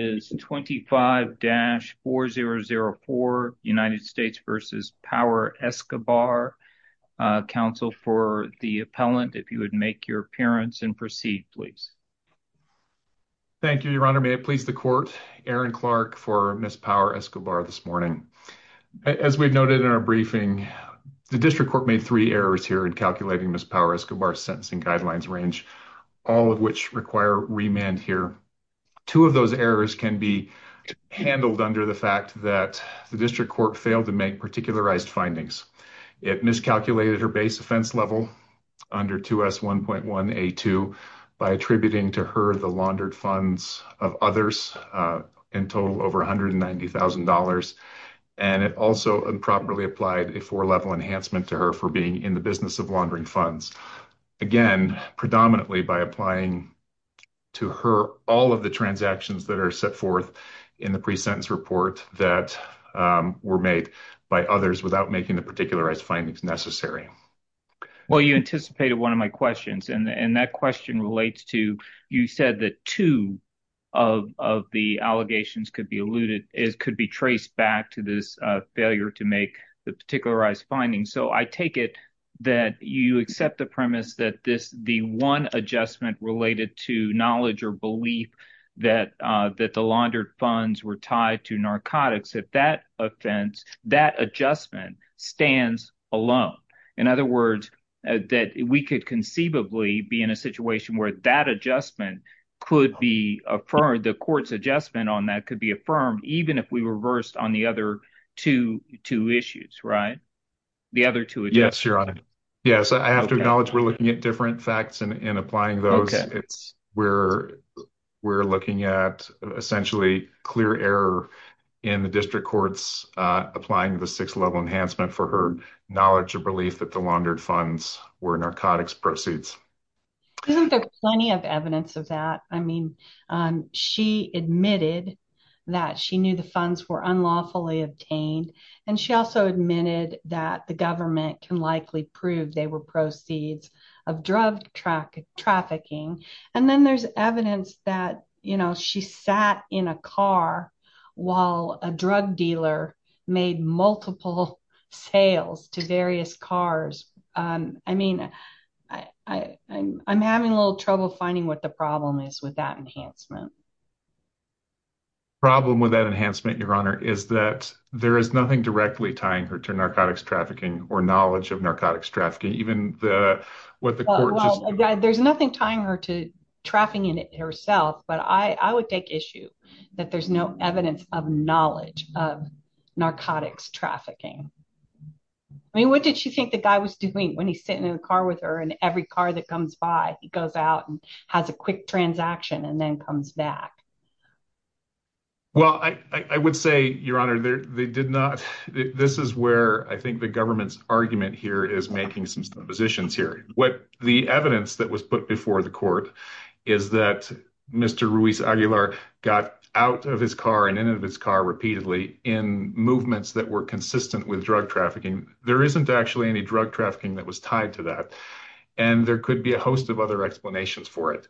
25-4004, United States v. Power-Escobar. Counsel for the appellant, if you would make your appearance and proceed, please. Thank you, Your Honor. May it please the Court, Aaron Clark for Ms. Power-Escobar this morning. As we've noted in our briefing, the District Court made three errors here in calculating Ms. Power-Escobar's sentencing guidelines range, all of which require remand here. Two of those errors can be handled under the fact that the District Court failed to make particularized findings. It miscalculated her base offense level under 2S1.1a2 by attributing to her the laundered funds of others in total over $190,000. And it also improperly applied a four-level enhancement to her for being in the business of laundering funds. Again, predominantly by applying to her all of the transactions that are set forth in the pre-sentence report that were made by others without making the particularized findings necessary. Well, you anticipated one of my questions, and that question relates to you said that two of the allegations could be alluded, could be traced back to this failure to make the particularized findings. So I take it that you accept the premise that this, the one adjustment related to knowledge or belief that the laundered funds were tied to narcotics, that that offense, that adjustment stands alone. In other words, that we could conceivably be in a situation where that adjustment could be affirmed, the court's adjustment on that could be affirmed, even if we reversed on the other two issues, right? The other two. Yes, I have to acknowledge we're looking at different facts in applying those. We're looking at essentially clear error in the district courts applying the six-level enhancement for her knowledge of belief that the laundered funds were narcotics proceeds. Isn't there plenty of evidence of that? I mean, she admitted that she knew the funds were obtained, and she also admitted that the government can likely prove they were proceeds of drug trafficking. And then there's evidence that she sat in a car while a drug dealer made multiple sales to various cars. I mean, I'm having a little trouble finding what the problem is with enhancement. The problem with that enhancement, Your Honor, is that there is nothing directly tying her to narcotics trafficking or knowledge of narcotics trafficking, even what the court just said. There's nothing tying her to trafficking herself, but I would take issue that there's no evidence of knowledge of narcotics trafficking. I mean, what did she think the guy was doing when he's sitting in a car with her and every car that comes by, he goes out and has a quick transaction and then comes back? Well, I would say, Your Honor, they did not. This is where I think the government's argument here is making some positions here. What the evidence that was put before the court is that Mr. Ruiz Aguilar got out of his car and in his car repeatedly in movements that were consistent with drug trafficking. There isn't actually any drug trafficking that was tied to that. And there could be a host of other explanations for it.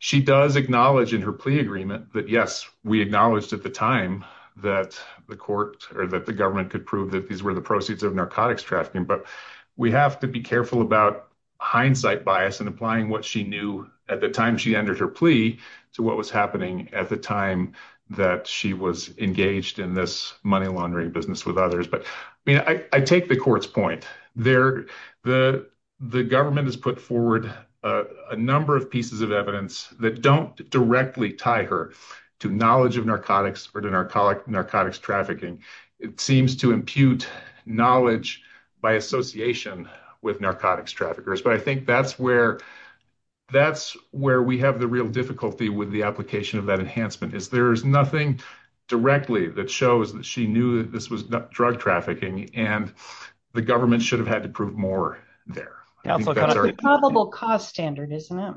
She does acknowledge in her plea agreement that, yes, we acknowledged at the time that the court or that the government could prove that these were the proceeds of narcotics trafficking. But we have to be careful about hindsight bias and applying what she knew at the time she entered her plea to what was happening at the time that she was engaged in this money laundering business with others. But, I mean, I take the court's point there. The government has put forward a number of pieces of evidence that don't directly tie her to knowledge of narcotics or to narcotics trafficking. It seems to impute knowledge by association with narcotics traffickers. But I think that's where that's where we have the real difficulty with the application of that enhancement is there's nothing directly that shows that she knew that this was drug trafficking and the government should have had to prove more there. That's the probable cause standard, isn't it?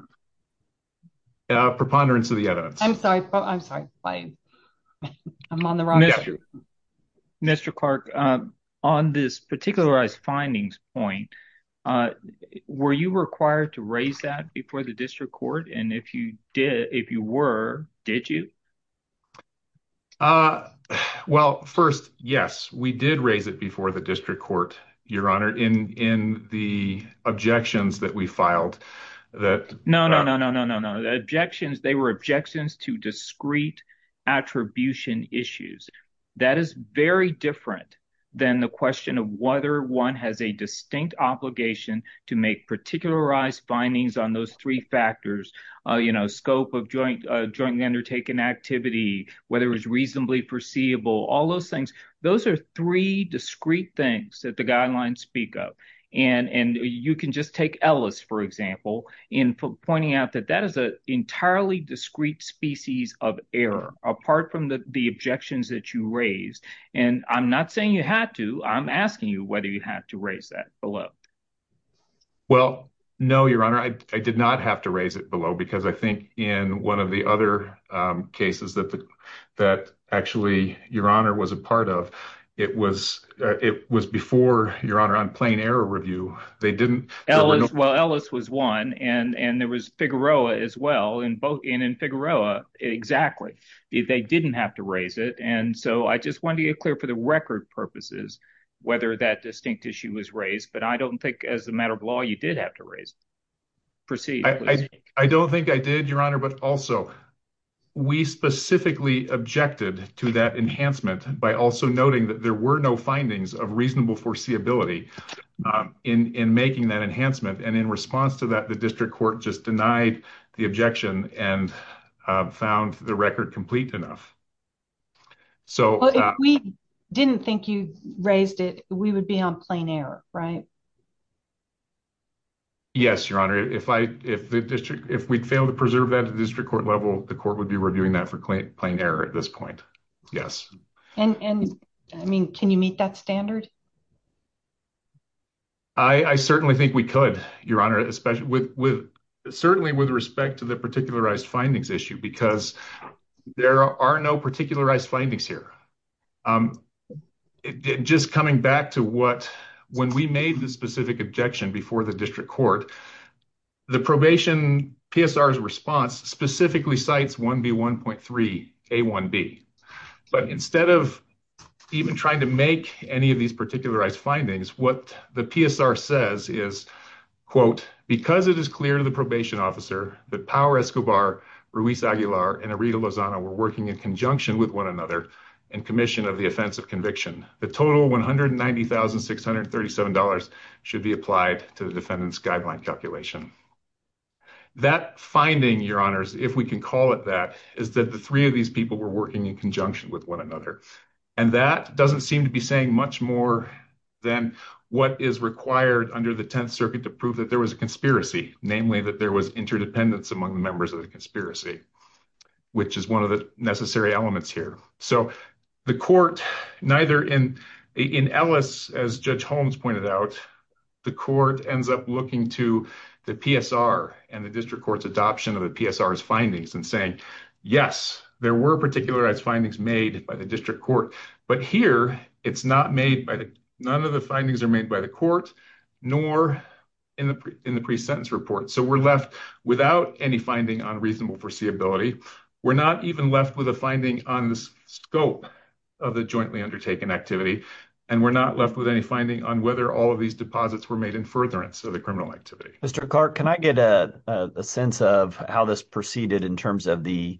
Yeah, preponderance of the evidence. I'm sorry. I'm sorry. I'm on the wrong. Mr. Clark, on this particularized findings point, were you required to raise that before the court? Well, first, yes, we did raise it before the district court, your honor, in the objections that we filed. No, no, no, no, no, no. The objections, they were objections to discrete attribution issues. That is very different than the question of whether one has a distinct obligation to make particularized findings on those three factors, you know, scope of joint undertaking activity, whether it was reasonably perceivable, all those things. Those are three discrete things that the guidelines speak of. And you can just take Ellis, for example, in pointing out that that is an entirely discrete species of error apart from the objections that you raised. And I'm not saying you had to. I'm asking you whether you had to raise that below. Well, no, your honor, I did not have to raise it below because I think in one of the other cases that that actually, your honor, was a part of it was it was before your honor on plain error review. They didn't. Well, Ellis was one. And there was Figueroa as well. And both in and Figueroa. Exactly. They didn't have to raise it. And so I just want to get clear for the record purposes, whether that distinct issue was raised. But I don't think as a matter of law, you did have to raise proceed. I don't think I did, your honor. But also, we specifically objected to that enhancement by also noting that there were no findings of reasonable foreseeability in making that enhancement. And in response to that, the district court just denied the objection and found the record complete enough. So we didn't think you raised it. We would be on plain error, right? Yes, your honor. If I if the district if we fail to preserve that district court level, the court would be reviewing that for plain error at this point. Yes. And I mean, can you meet that standard? I certainly think we could, your honor, especially with certainly with respect to the particularized findings issue, because there are no particularized findings here. Just coming back to what when we made the specific objection before the district court, the probation PSR is response specifically sites one B 1.3 a one B. But instead of even trying to make any of these particularized findings, what the PSR says is, quote, because it is clear to the probation officer that power Escobar, Ruiz Aguilar and Arita Lozano were working in conjunction with one another and commission of the offense of conviction. The total one hundred and ninety thousand six hundred thirty seven dollars should be applied to the defendant's guideline calculation. That finding, your honors, if we can call it that, is that the three of these people were working in conjunction with one another. And that doesn't seem to be saying much more than what is required under the Tenth Circuit to prove that there was a conspiracy, namely that there was interdependence among the members of the conspiracy, which is one of the necessary elements here. So the court neither in in Ellis, as Judge Holmes pointed out, the court ends up looking to the PSR and the district court's adoption of the findings and saying, yes, there were particularized findings made by the district court. But here it's not made by none of the findings are made by the court nor in the in the pre sentence report. So we're left without any finding on reasonable foreseeability. We're not even left with a finding on the scope of the jointly undertaken activity, and we're not left with any finding on whether all of these deposits were made in furtherance of the criminal activity. Mr. Clark, can I get a sense of how this proceeded in terms of the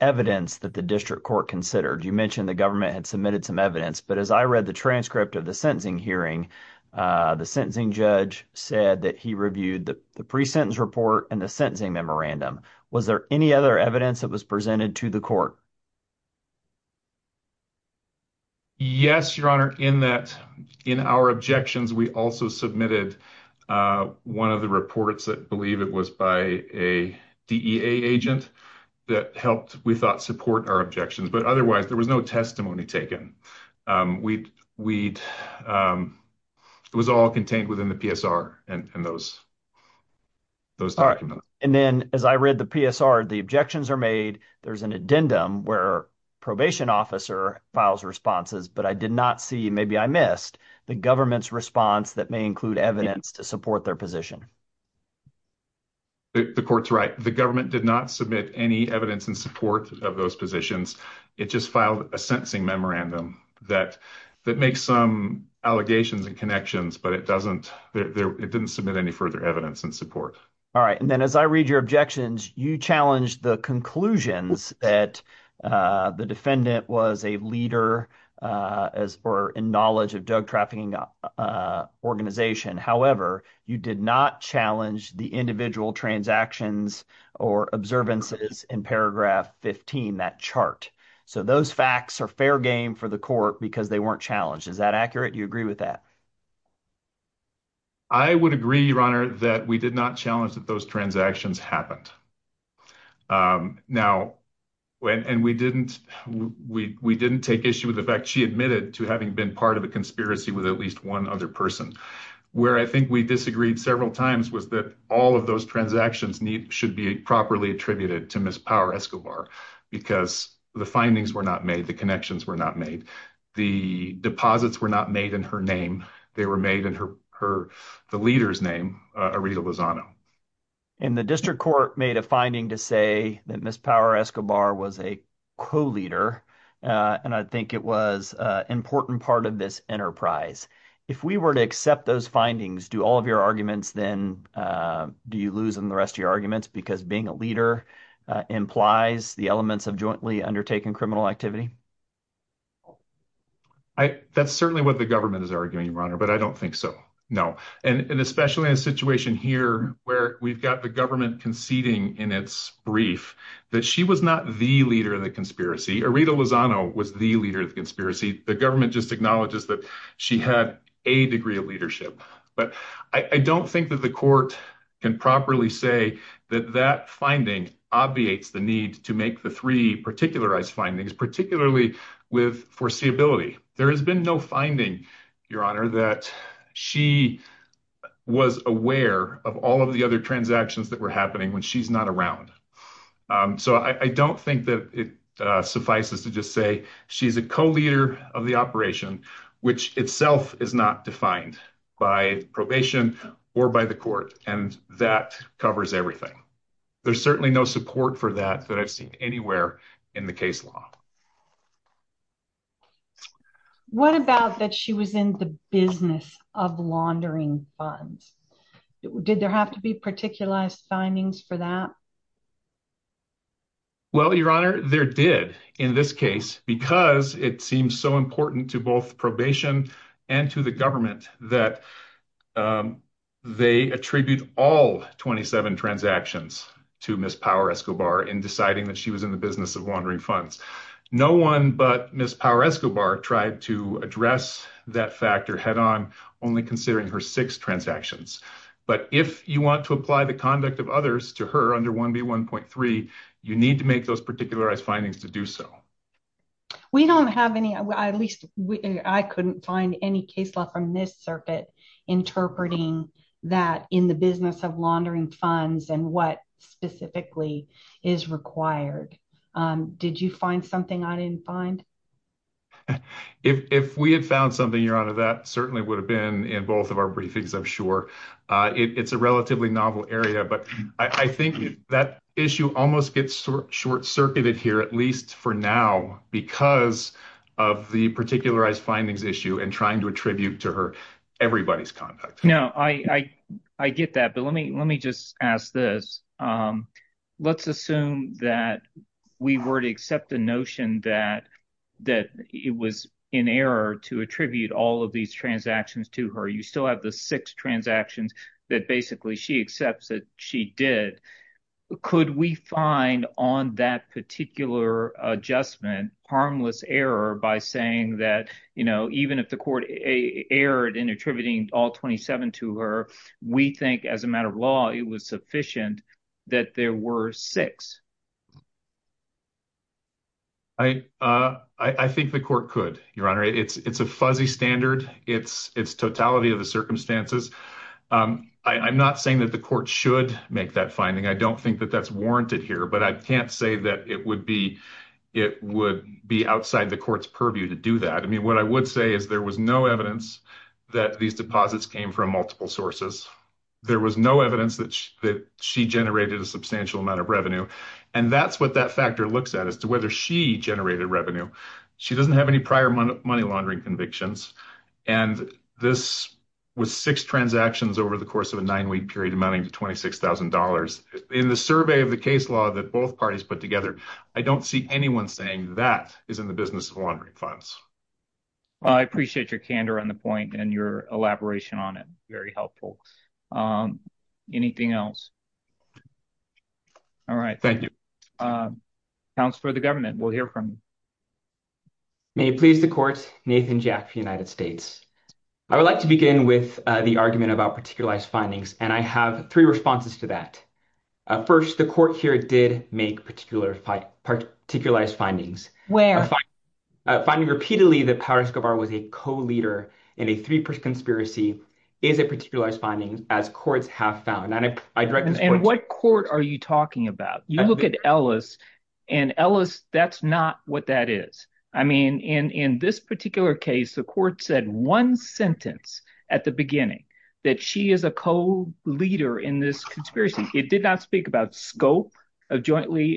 evidence that the district court considered? You mentioned the government had submitted some evidence. But as I read the transcript of the sentencing hearing, the sentencing judge said that he reviewed the pre sentence report and the sentencing memorandum. Was there any other evidence that was presented to the court? Yes, your honor, in that in our objections, we also submitted one of the reports that believe it was by a DEA agent that helped, we thought, support our objections. But otherwise, there was no testimony taken. We we'd it was all contained within the PSR and those those documents. And then as I read the PSR, the objections are made. There's an addendum where probation officer files responses, but I did not see maybe I missed the government's response that may include evidence to support their position. The court's right. The government did not submit any evidence in support of those positions. It just filed a sentencing memorandum that that makes some allegations and connections, but it doesn't. It didn't submit any further evidence and support. All right. And then as I read your objections, you challenge the conclusions that the defendant was a leader as for in knowledge of drug trafficking organization. However, you did not challenge the individual transactions or observances in paragraph 15 that chart. So those facts are fair game for the court because they weren't challenged. Is that accurate? You agree with that? I would agree, your honor, that we did not challenge that those transactions happened now and we didn't we didn't take issue with the fact she admitted to having been part of a conspiracy with at least one other person where I think we disagreed several times was that all of those transactions need should be properly attributed to Miss Power Escobar because the findings were not made. The connections were not made. The deposits were not made in her name. They were made in her her the leader's name, Arita Lozano. And the district court made a finding to say that Miss Power Escobar was a co-leader. And I think it was an important part of this enterprise. If we were to accept those findings, do all of your arguments then do you lose in the rest of your arguments because being a leader implies the elements of jointly undertaking criminal activity? That's certainly what the government is arguing, your honor, but I don't think so. No. And especially in a situation here where we've got the government conceding in its brief that she was not the leader of the conspiracy. Arita Lozano was the leader of the conspiracy. The government just acknowledges that she had a degree of leadership. But I don't think that the can properly say that that finding obviates the need to make the three particularized findings, particularly with foreseeability. There has been no finding, your honor, that she was aware of all of the other transactions that were happening when she's not around. So I don't think that it suffices to just say she's a co-leader of the operation, which itself is not defined by probation or by the court. And that covers everything. There's certainly no support for that that I've seen anywhere in the case law. What about that she was in the business of laundering funds? Did there have to be particularized findings for that? Well, your honor, there did in this case, because it seems so important to both probation and to the government that they attribute all 27 transactions to Miss Power Escobar in deciding that she was in the business of laundering funds. No one but Miss Power Escobar tried to address that factor head on, only considering her six transactions. But if you want to apply the conduct of others to her under 1B1.3, you need to make those particularized findings to do so. We don't have any, at least I couldn't find any case law from this circuit interpreting that in the business of laundering funds and what specifically is required. Did you find something I didn't find? If we had found something, your honor, that certainly would have been in both of our briefings, I'm sure. It's a relatively novel area, but I think that issue almost gets short circuited here, at least for now, because of the particularized findings issue and trying to attribute to her everybody's conduct. No, I get that. But let me just ask this. Let's assume that we were to accept the notion that it was in error to attribute all of these transactions to her. You still have the six transactions that basically she accepts that she did. Could we find on that particular adjustment harmless error by saying that, you know, even if the court erred in attributing all 27 to her, we think as a matter of law, it was sufficient that there were six? I think the court could, your honor. It's a fuzzy standard. It's totality of the I'm not saying that the court should make that finding. I don't think that that's warranted here, but I can't say that it would be outside the court's purview to do that. I mean, what I would say is there was no evidence that these deposits came from multiple sources. There was no evidence that she generated a substantial amount of revenue. And that's what that factor looks at as to whether she generated revenue. She doesn't have any prior money laundering convictions. And this was six transactions over the course of a nine-week period amounting to $26,000. In the survey of the case law that both parties put together, I don't see anyone saying that is in the business of laundering funds. Well, I appreciate your candor on the point and your elaboration on it. Very helpful. Anything else? All right. Thank you. Counselor of the government, we'll hear from you. May it please the court, Nathan Jack for the United States. I would like to begin with the argument about particularized findings, and I have three responses to that. First, the court here did make particularized findings. Where? Finding repeatedly that Paris Guevara was a co-leader in a three-person conspiracy is a particularized finding, as courts have found. And what court are you talking about? You look at Ellis, and Ellis, that's not what that is. I mean, in this particular case, the court said one sentence at the beginning that she is a co-leader in this conspiracy. It did not speak about scope of jointly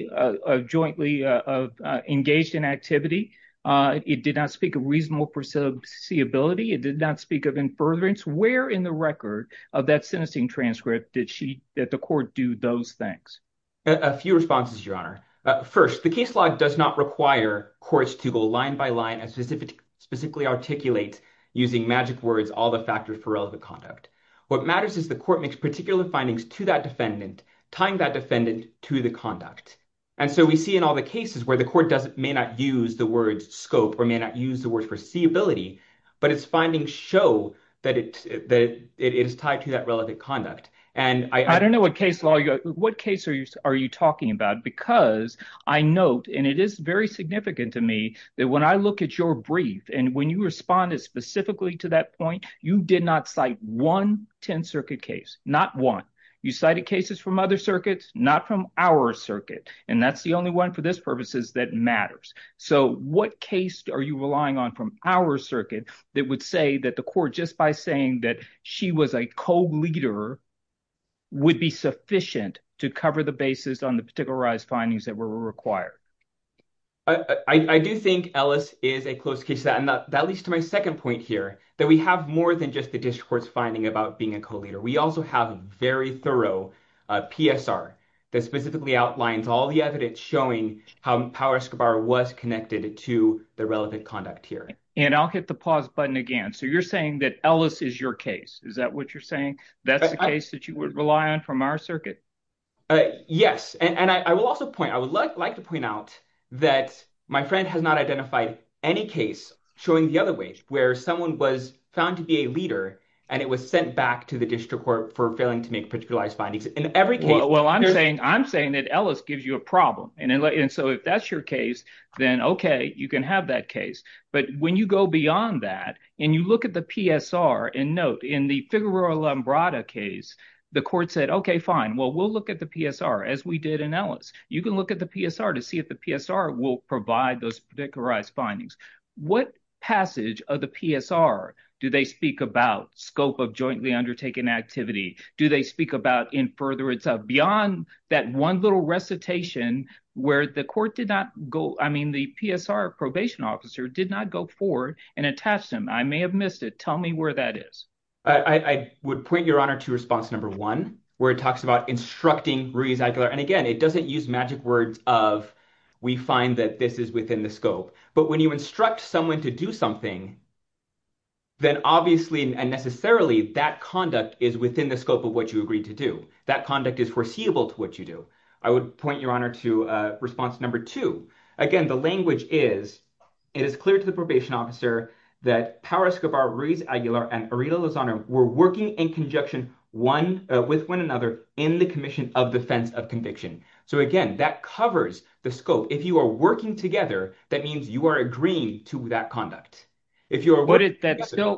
engaged in activity. It did not speak of reasonable foreseeability. It did not speak of in furtherance. Where in the record of that sentencing transcript did she, did the court do those things? A few responses, your honor. First, the case log does not require courts to go line by line and specifically articulate using magic words all the factors for relevant conduct. What matters is the court makes particular findings to that defendant, tying that defendant to the conduct. And so we see in all the cases where the court may not use the word scope or may not use the word foreseeability, but its findings show that it is tied to that relevant conduct. And I don't know what case law, what case are you talking about? Because I note, and it is very significant to me, that when I look at your brief, and when you responded specifically to that point, you did not cite one 10th Circuit case, not one. You cited cases from other circuits, not from our circuit. And that's the only one for this purpose is that matters. So what case are you relying on from our circuit that would say that the court, just by saying that she was a co-leader, would be sufficient to cover the basis on the particularized findings that were required? I do think Ellis is a close case. And that leads to my second point here, that we have more than just the district court's finding about being a co-leader. We also have a very thorough PSR that specifically outlines all the evidence showing how Power Escobar was connected to the relevant conduct here. And I'll hit the pause button again. So you're saying that Ellis is your case. Is that what you're saying? That's the case that you would rely on from our circuit? Yes. And I will also point, I would like to point out that my friend has not identified any case showing the other ways where someone was found to be a leader, and it was sent back to the district court for failing to make particularized findings. In every case- Well, I'm saying that Ellis gives you a problem. And so if that's your case, then okay, you can have that case. But when you go beyond that, and you look at the PSR and note in the Figueroa-Lambrada case, the court said, okay, fine. Well, we'll look at the PSR as we did in Ellis. You can look at the PSR to see if the PSR will provide those particularized findings. What passage of the PSR do they speak about scope of jointly undertaken activity? Do they speak about in furtherance of beyond that one little recitation where the court did not go, I mean, the PSR probation officer did not go forward and attach them. I may have missed it. Tell me where that is. I would point your honor to response number one, where it talks about instructing Ruiz Aguilar. And again, it doesn't use magic words of, we find that this is within the scope. But when you instruct someone to do something, then obviously, and necessarily that conduct is within the scope of what you agreed to do. That conduct is foreseeable to what you do. I would point your honor to response number two. Again, the language is, it is clear to the probation officer that Power Escobar, Ruiz Aguilar and Arita Lozano were working in conjunction one with one another in the commission of defense of conviction. So again, that covers the scope. If you are working together, that means you are agreeing to that conduct. If you're-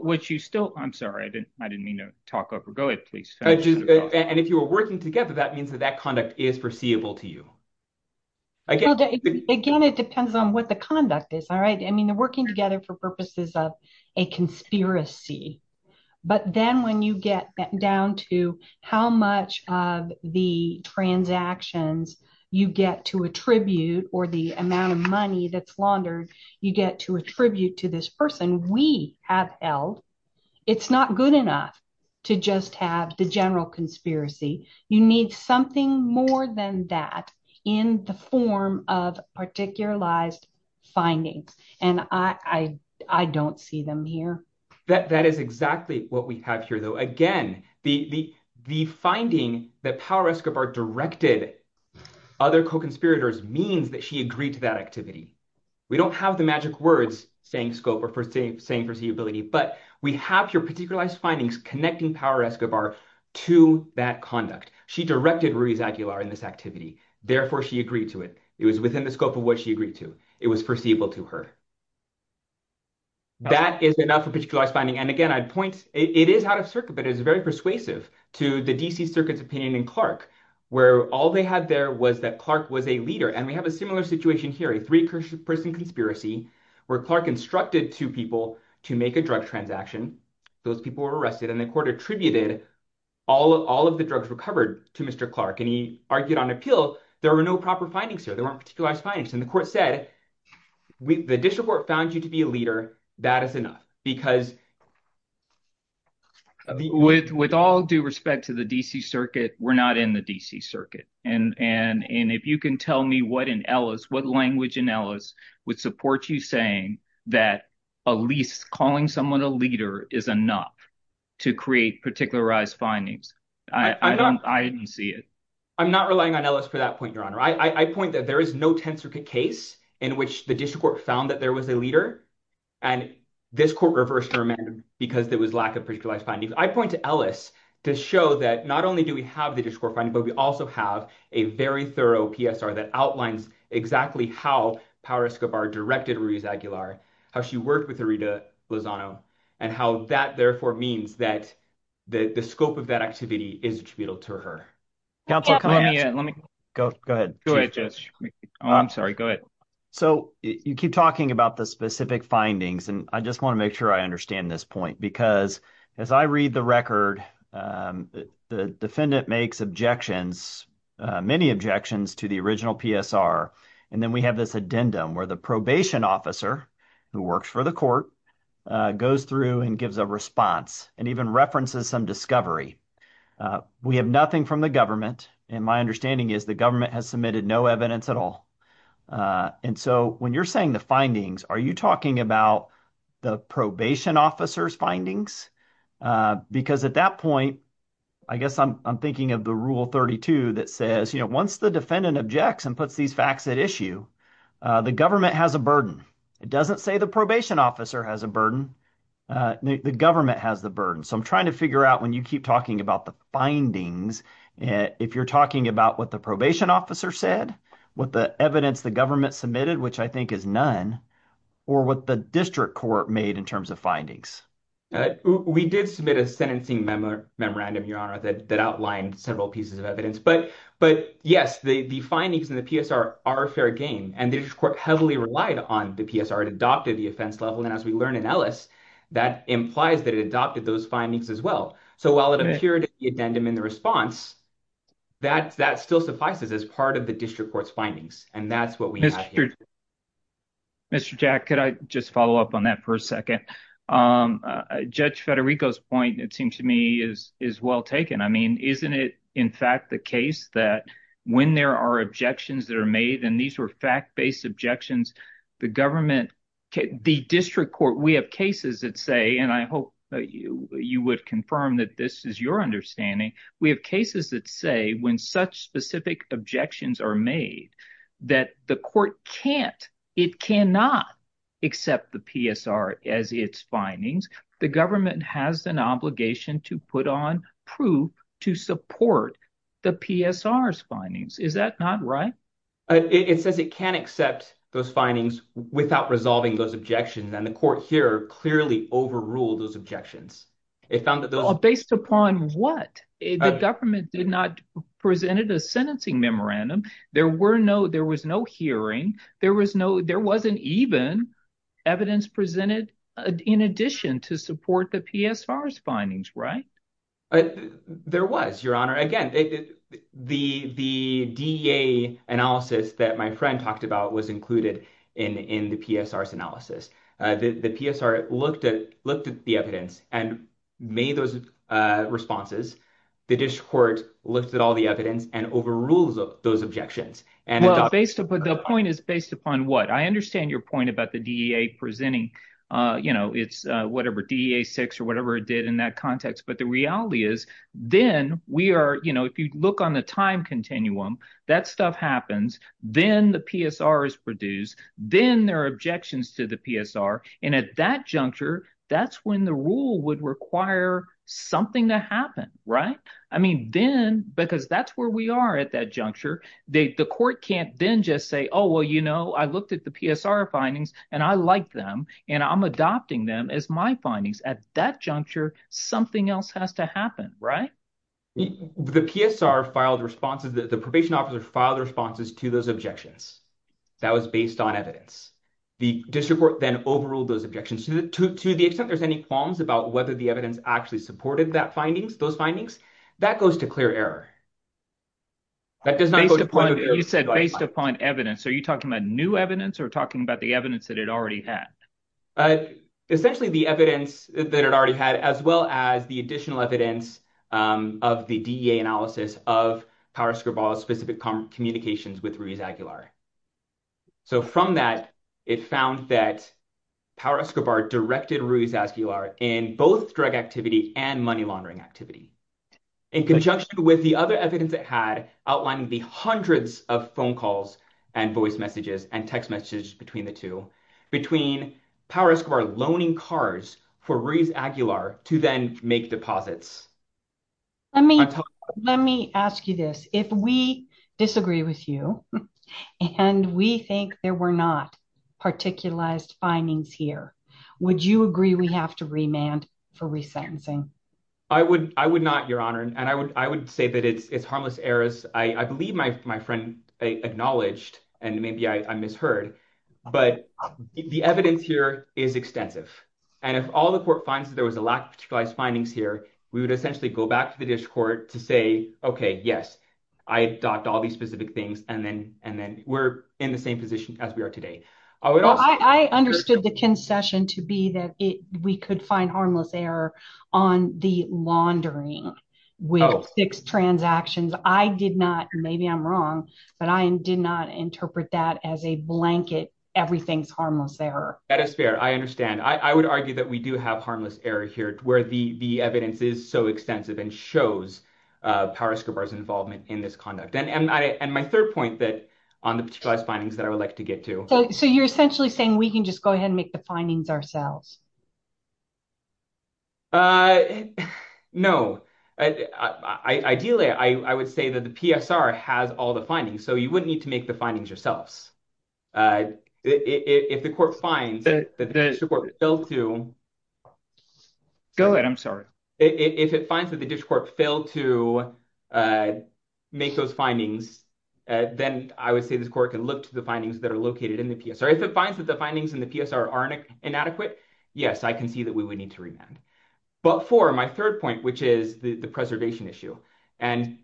Would you still, I'm sorry, I didn't mean to talk over. Go ahead, please. And if you were working together, that means that that conduct is foreseeable to you. Again, it depends on what the conduct is. I mean, they're working together for purposes of a conspiracy. But then when you get down to how much of the transactions you get to attribute, or the amount of money that's laundered you get to attribute to this person we have held, it's not good enough to just have the general conspiracy. You need something more than that in the form of particularized findings. And I don't see them here. That is exactly what we have here though. Again, the finding that Power Escobar directed other co-conspirators means that she agreed to that activity. We don't have the magic words saying scope or saying foreseeability, but we have your particularized findings connecting Power Escobar to that conduct. She directed Ruiz Aguilar in this activity. Therefore, she agreed to it. It was within the scope of what she agreed to. It was foreseeable to her. That is enough for particularized finding. And again, I'd point, it is out of circuit, but it's very persuasive to the DC Circuit's opinion in Clark, where all they had there was that Clark was a leader. And we have a similar situation here, a three-person conspiracy, where Clark instructed two people to make a drug transaction. Those people were arrested and the court attributed all of the drugs recovered to Mr. Clark. And he argued on appeal, there were no proper findings here. There weren't particularized findings. And the court said, we, the district court found you to be a leader. That is enough because. With all due respect to the DC Circuit, we're not in the DC Circuit. And if you can tell me what in Ellis, what language in Ellis would support you saying that at least calling someone a leader is enough to create particularized findings. I didn't see it. I'm not relying on Ellis for that point, your honor. I point that there is no 10th circuit case in which the district court found that there was a leader. And this court reversed her amendment because there was lack of particularized findings. I point to Ellis to show that not only do we have the district court finding, but we also have a very thorough PSR that outlines exactly how Power Escobar directed Ruiz Aguilar, how she worked with Rita Lozano, and how that therefore means that the scope of that activity is attributable to her. Go ahead. Go ahead. I'm sorry. Go ahead. So you keep talking about the specific findings and I just want to make sure I understand this point because as I read the record, the defendant makes objections, many objections to the original PSR. And then we have this addendum where the probation officer who works for the court goes through and gives a response and even references some discovery. We have nothing from the government and my understanding is the government has submitted no evidence at all. And so when you're saying the findings, are you talking about the probation officer's findings? Because at that point, I guess I'm thinking of the rule 32 that says, you know, once the defendant objects and puts these facts at issue, the government has a burden. It doesn't say the probation officer has a burden. The government has the burden. So I'm trying to figure out when you keep talking about the findings, if you're talking about what the probation officer said, what the evidence the government submitted, which I think is none, or what the district court made in terms of findings. We did submit a sentencing memorandum, Your Honor, that outlined several pieces of evidence. But yes, the findings in the PSR are fair game. And the district court heavily relied on the PSR. It adopted the offense level. And as we learned in Ellis, that implies that it adopted those findings as well. So while it appeared in the addendum in the response, that still suffices as part of the district court's findings. And that's what we have here. Mr. Jack, could I just follow up on that for a second? Judge Federico's point, it seems to me, is well taken. I mean, isn't it in fact the case that when there are objections that are made, and these were fact-based objections, the government, the district court, we have cases that say, and I hope that you would confirm that this is your understanding. We have cases that say when such specific objections are made, that the court can't, it cannot accept the PSR as its findings. The government has an obligation to put on proof to support the PSR's findings. Is that not right? It says it can accept those findings without resolving those objections. And the court here clearly overruled those objections. Based upon what? The government did not present a sentencing memorandum. There was no hearing. There wasn't even evidence presented in addition to support the PSR's findings. There was, Your Honor. Again, the DEA analysis that my friend talked about was included in the PSR's analysis. The PSR looked at the evidence and made those responses. The district court looked at all the evidence and overruled those objections. The point is based upon what? I understand your point about the DEA presenting, you know, it's whatever, DEA 6 or whatever it did in that context. But the reality is, then we are, you know, if you look on the time continuum, that stuff happens. Then the PSR is produced. Then there are objections to the PSR. And at that juncture, that's when the rule would require something to happen, right? I mean, then, because that's where we are at that juncture, the court can't then just say, oh, well, you know, I looked at the PSR findings, and I like them, and I'm adopting them as my findings. At that juncture, something else has to happen, right? The PSR filed responses. The probation officer filed responses to those objections. That was based on evidence. The district court then overruled those objections. To the extent there's any qualms about whether the evidence actually supported that findings, those findings, that goes to clear error. That does not go to point of error. You said based upon evidence. Are you talking about new evidence or talking about the evidence that it already had? Essentially, the evidence that it already had, as well as the additional evidence of the DEA analysis of Power Escobar's specific communications with Ruiz Aguilar. So, from that, it found that Power Escobar directed Ruiz Aguilar in both drug activity and money laundering activity. In conjunction with the other evidence it had outlining the hundreds of phone calls and voice messages and text messages between the two, between Power Escobar loaning cars for Ruiz Aguilar to then make deposits. Let me ask you this. If we disagree with you, and we think there were not particularized findings here, would you agree we have to remand for resentencing? I would not, Your Honor. I would say that it's harmless errors. I believe my friend acknowledged, and maybe I misheard, but the evidence here is extensive. If all the court finds that there was a lack of particularized findings here, we would essentially go back to the district court to say, okay, yes, I docked all these specific things, and then we're in the same position as we are today. I understood the concession to be that we could find harmless error on the laundering with six transactions. I did not, and maybe I'm wrong, but I did not interpret that as a blanket, everything's harmless error. That is fair. I understand. I would argue that we do have harmless error here where the evidence is so extensive and shows Power Escobar's involvement in this conduct. My third point on the particularized findings that I would like to get to. You're essentially saying we can just go ahead and make the findings ourselves? No. Ideally, I would say that the PSR has all the findings, so you wouldn't need to make the findings yourselves. If the court finds that the district court failed to make those findings, then I would say this court can look to the findings that are located in the PSR. If it finds that the findings in the PSR are inadequate, yes, I can see that we would need to remand. But for my third point, which is the preservation issue, and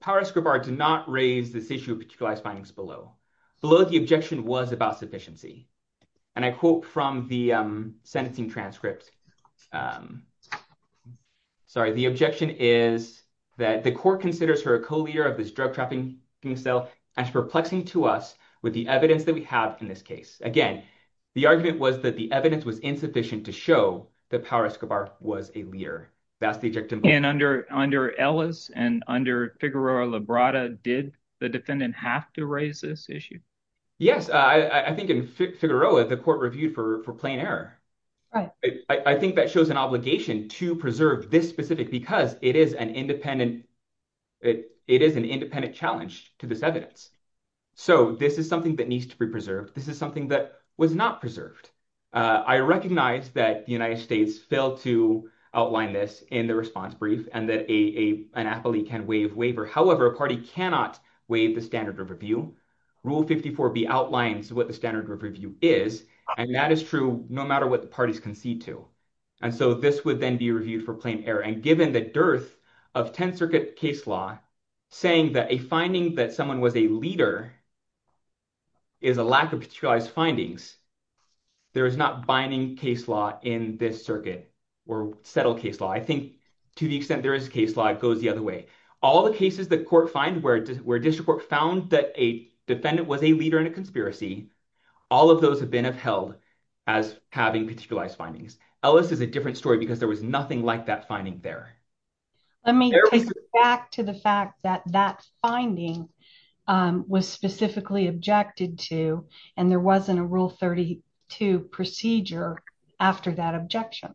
Power Escobar did not raise this issue of particularized findings below. Below the objection was about sufficiency. I quote from the sentencing transcript, sorry, the objection is that the court considers her a co-leader of this drug trafficking cell as perplexing to us with the evidence that we have in this case. Again, the argument was that the evidence was insufficient to show that Power Escobar was a leader. That's the objective. And under Ellis and under Figueroa-Librada, did the defendant have to raise this issue? Yes. I think in Figueroa, the court reviewed for plain error. I think that shows an obligation to preserve this specific because it is an independent challenge to this evidence. So this is something that needs to be preserved. This is something that was not preserved. I recognize that the United States failed to outline this in the response brief and that an appellee can waive waiver. However, a party cannot waive the standard of review. Rule 54B outlines what the standard of review is, and that is true no matter what the parties concede to. And so this would then be reviewed for plain error. And given the dearth of 10th Circuit case law saying that a finding that someone was a leader is a lack of particularized findings, there is not binding case law in this circuit or settled case law. I think to the extent there is case law, it goes the other way. All the cases that court find where district court found that a defendant was a leader in a conspiracy, all of those have been upheld as having particularized findings. Ellis is a different story because there was nothing like that finding there. Let me get back to the fact that that finding was specifically objected to, and there wasn't a Rule 32 procedure after that objection.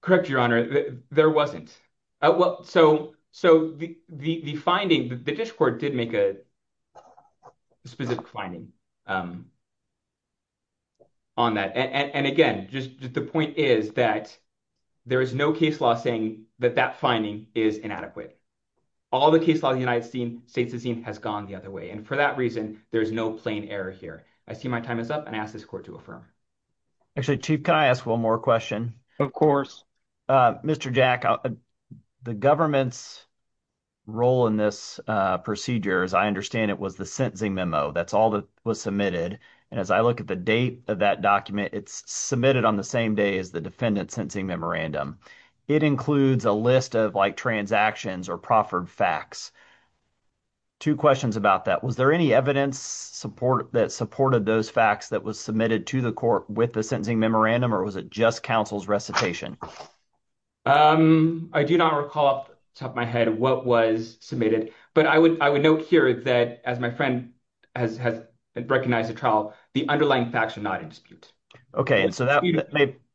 Correct, Your Honor. There wasn't. So the finding, the district court did make a specific finding on that. And again, the point is that there is no case law saying that that finding is inadequate. All the case law in the United States has gone the other way. And for that reason, there is no plain error here. I see my time is up, and I ask this court to affirm. Actually, Chief, can I ask one more question? Of course. Mr. Jack, the government's role in this procedure, as I understand it, was the sentencing memo. That's all that was submitted. And as I look at the date of that document, it's submitted on the same day as the defendant's sentencing memorandum. It includes a list of transactions or proffered facts. Two questions about that. Was there any evidence that supported those facts that was submitted to the court with the sentencing memo? I do not recall off the top of my head what was submitted. But I would note here that, as my friend has recognized the trial, the underlying facts are not in dispute. Okay. And so that—you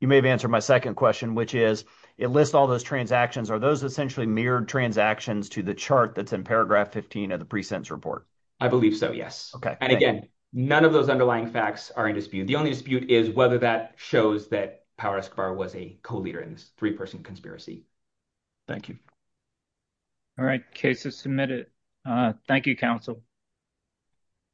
may have answered my second question, which is, it lists all those transactions. Are those essentially mirrored transactions to the chart that's in paragraph 15 of the pre-sentence report? I believe so, yes. And again, none of those underlying facts are in dispute. The only dispute is whether that shows that Power Escobar was a co-leader in this three-person conspiracy. Thank you. All right. Case is submitted. Thank you, counsel.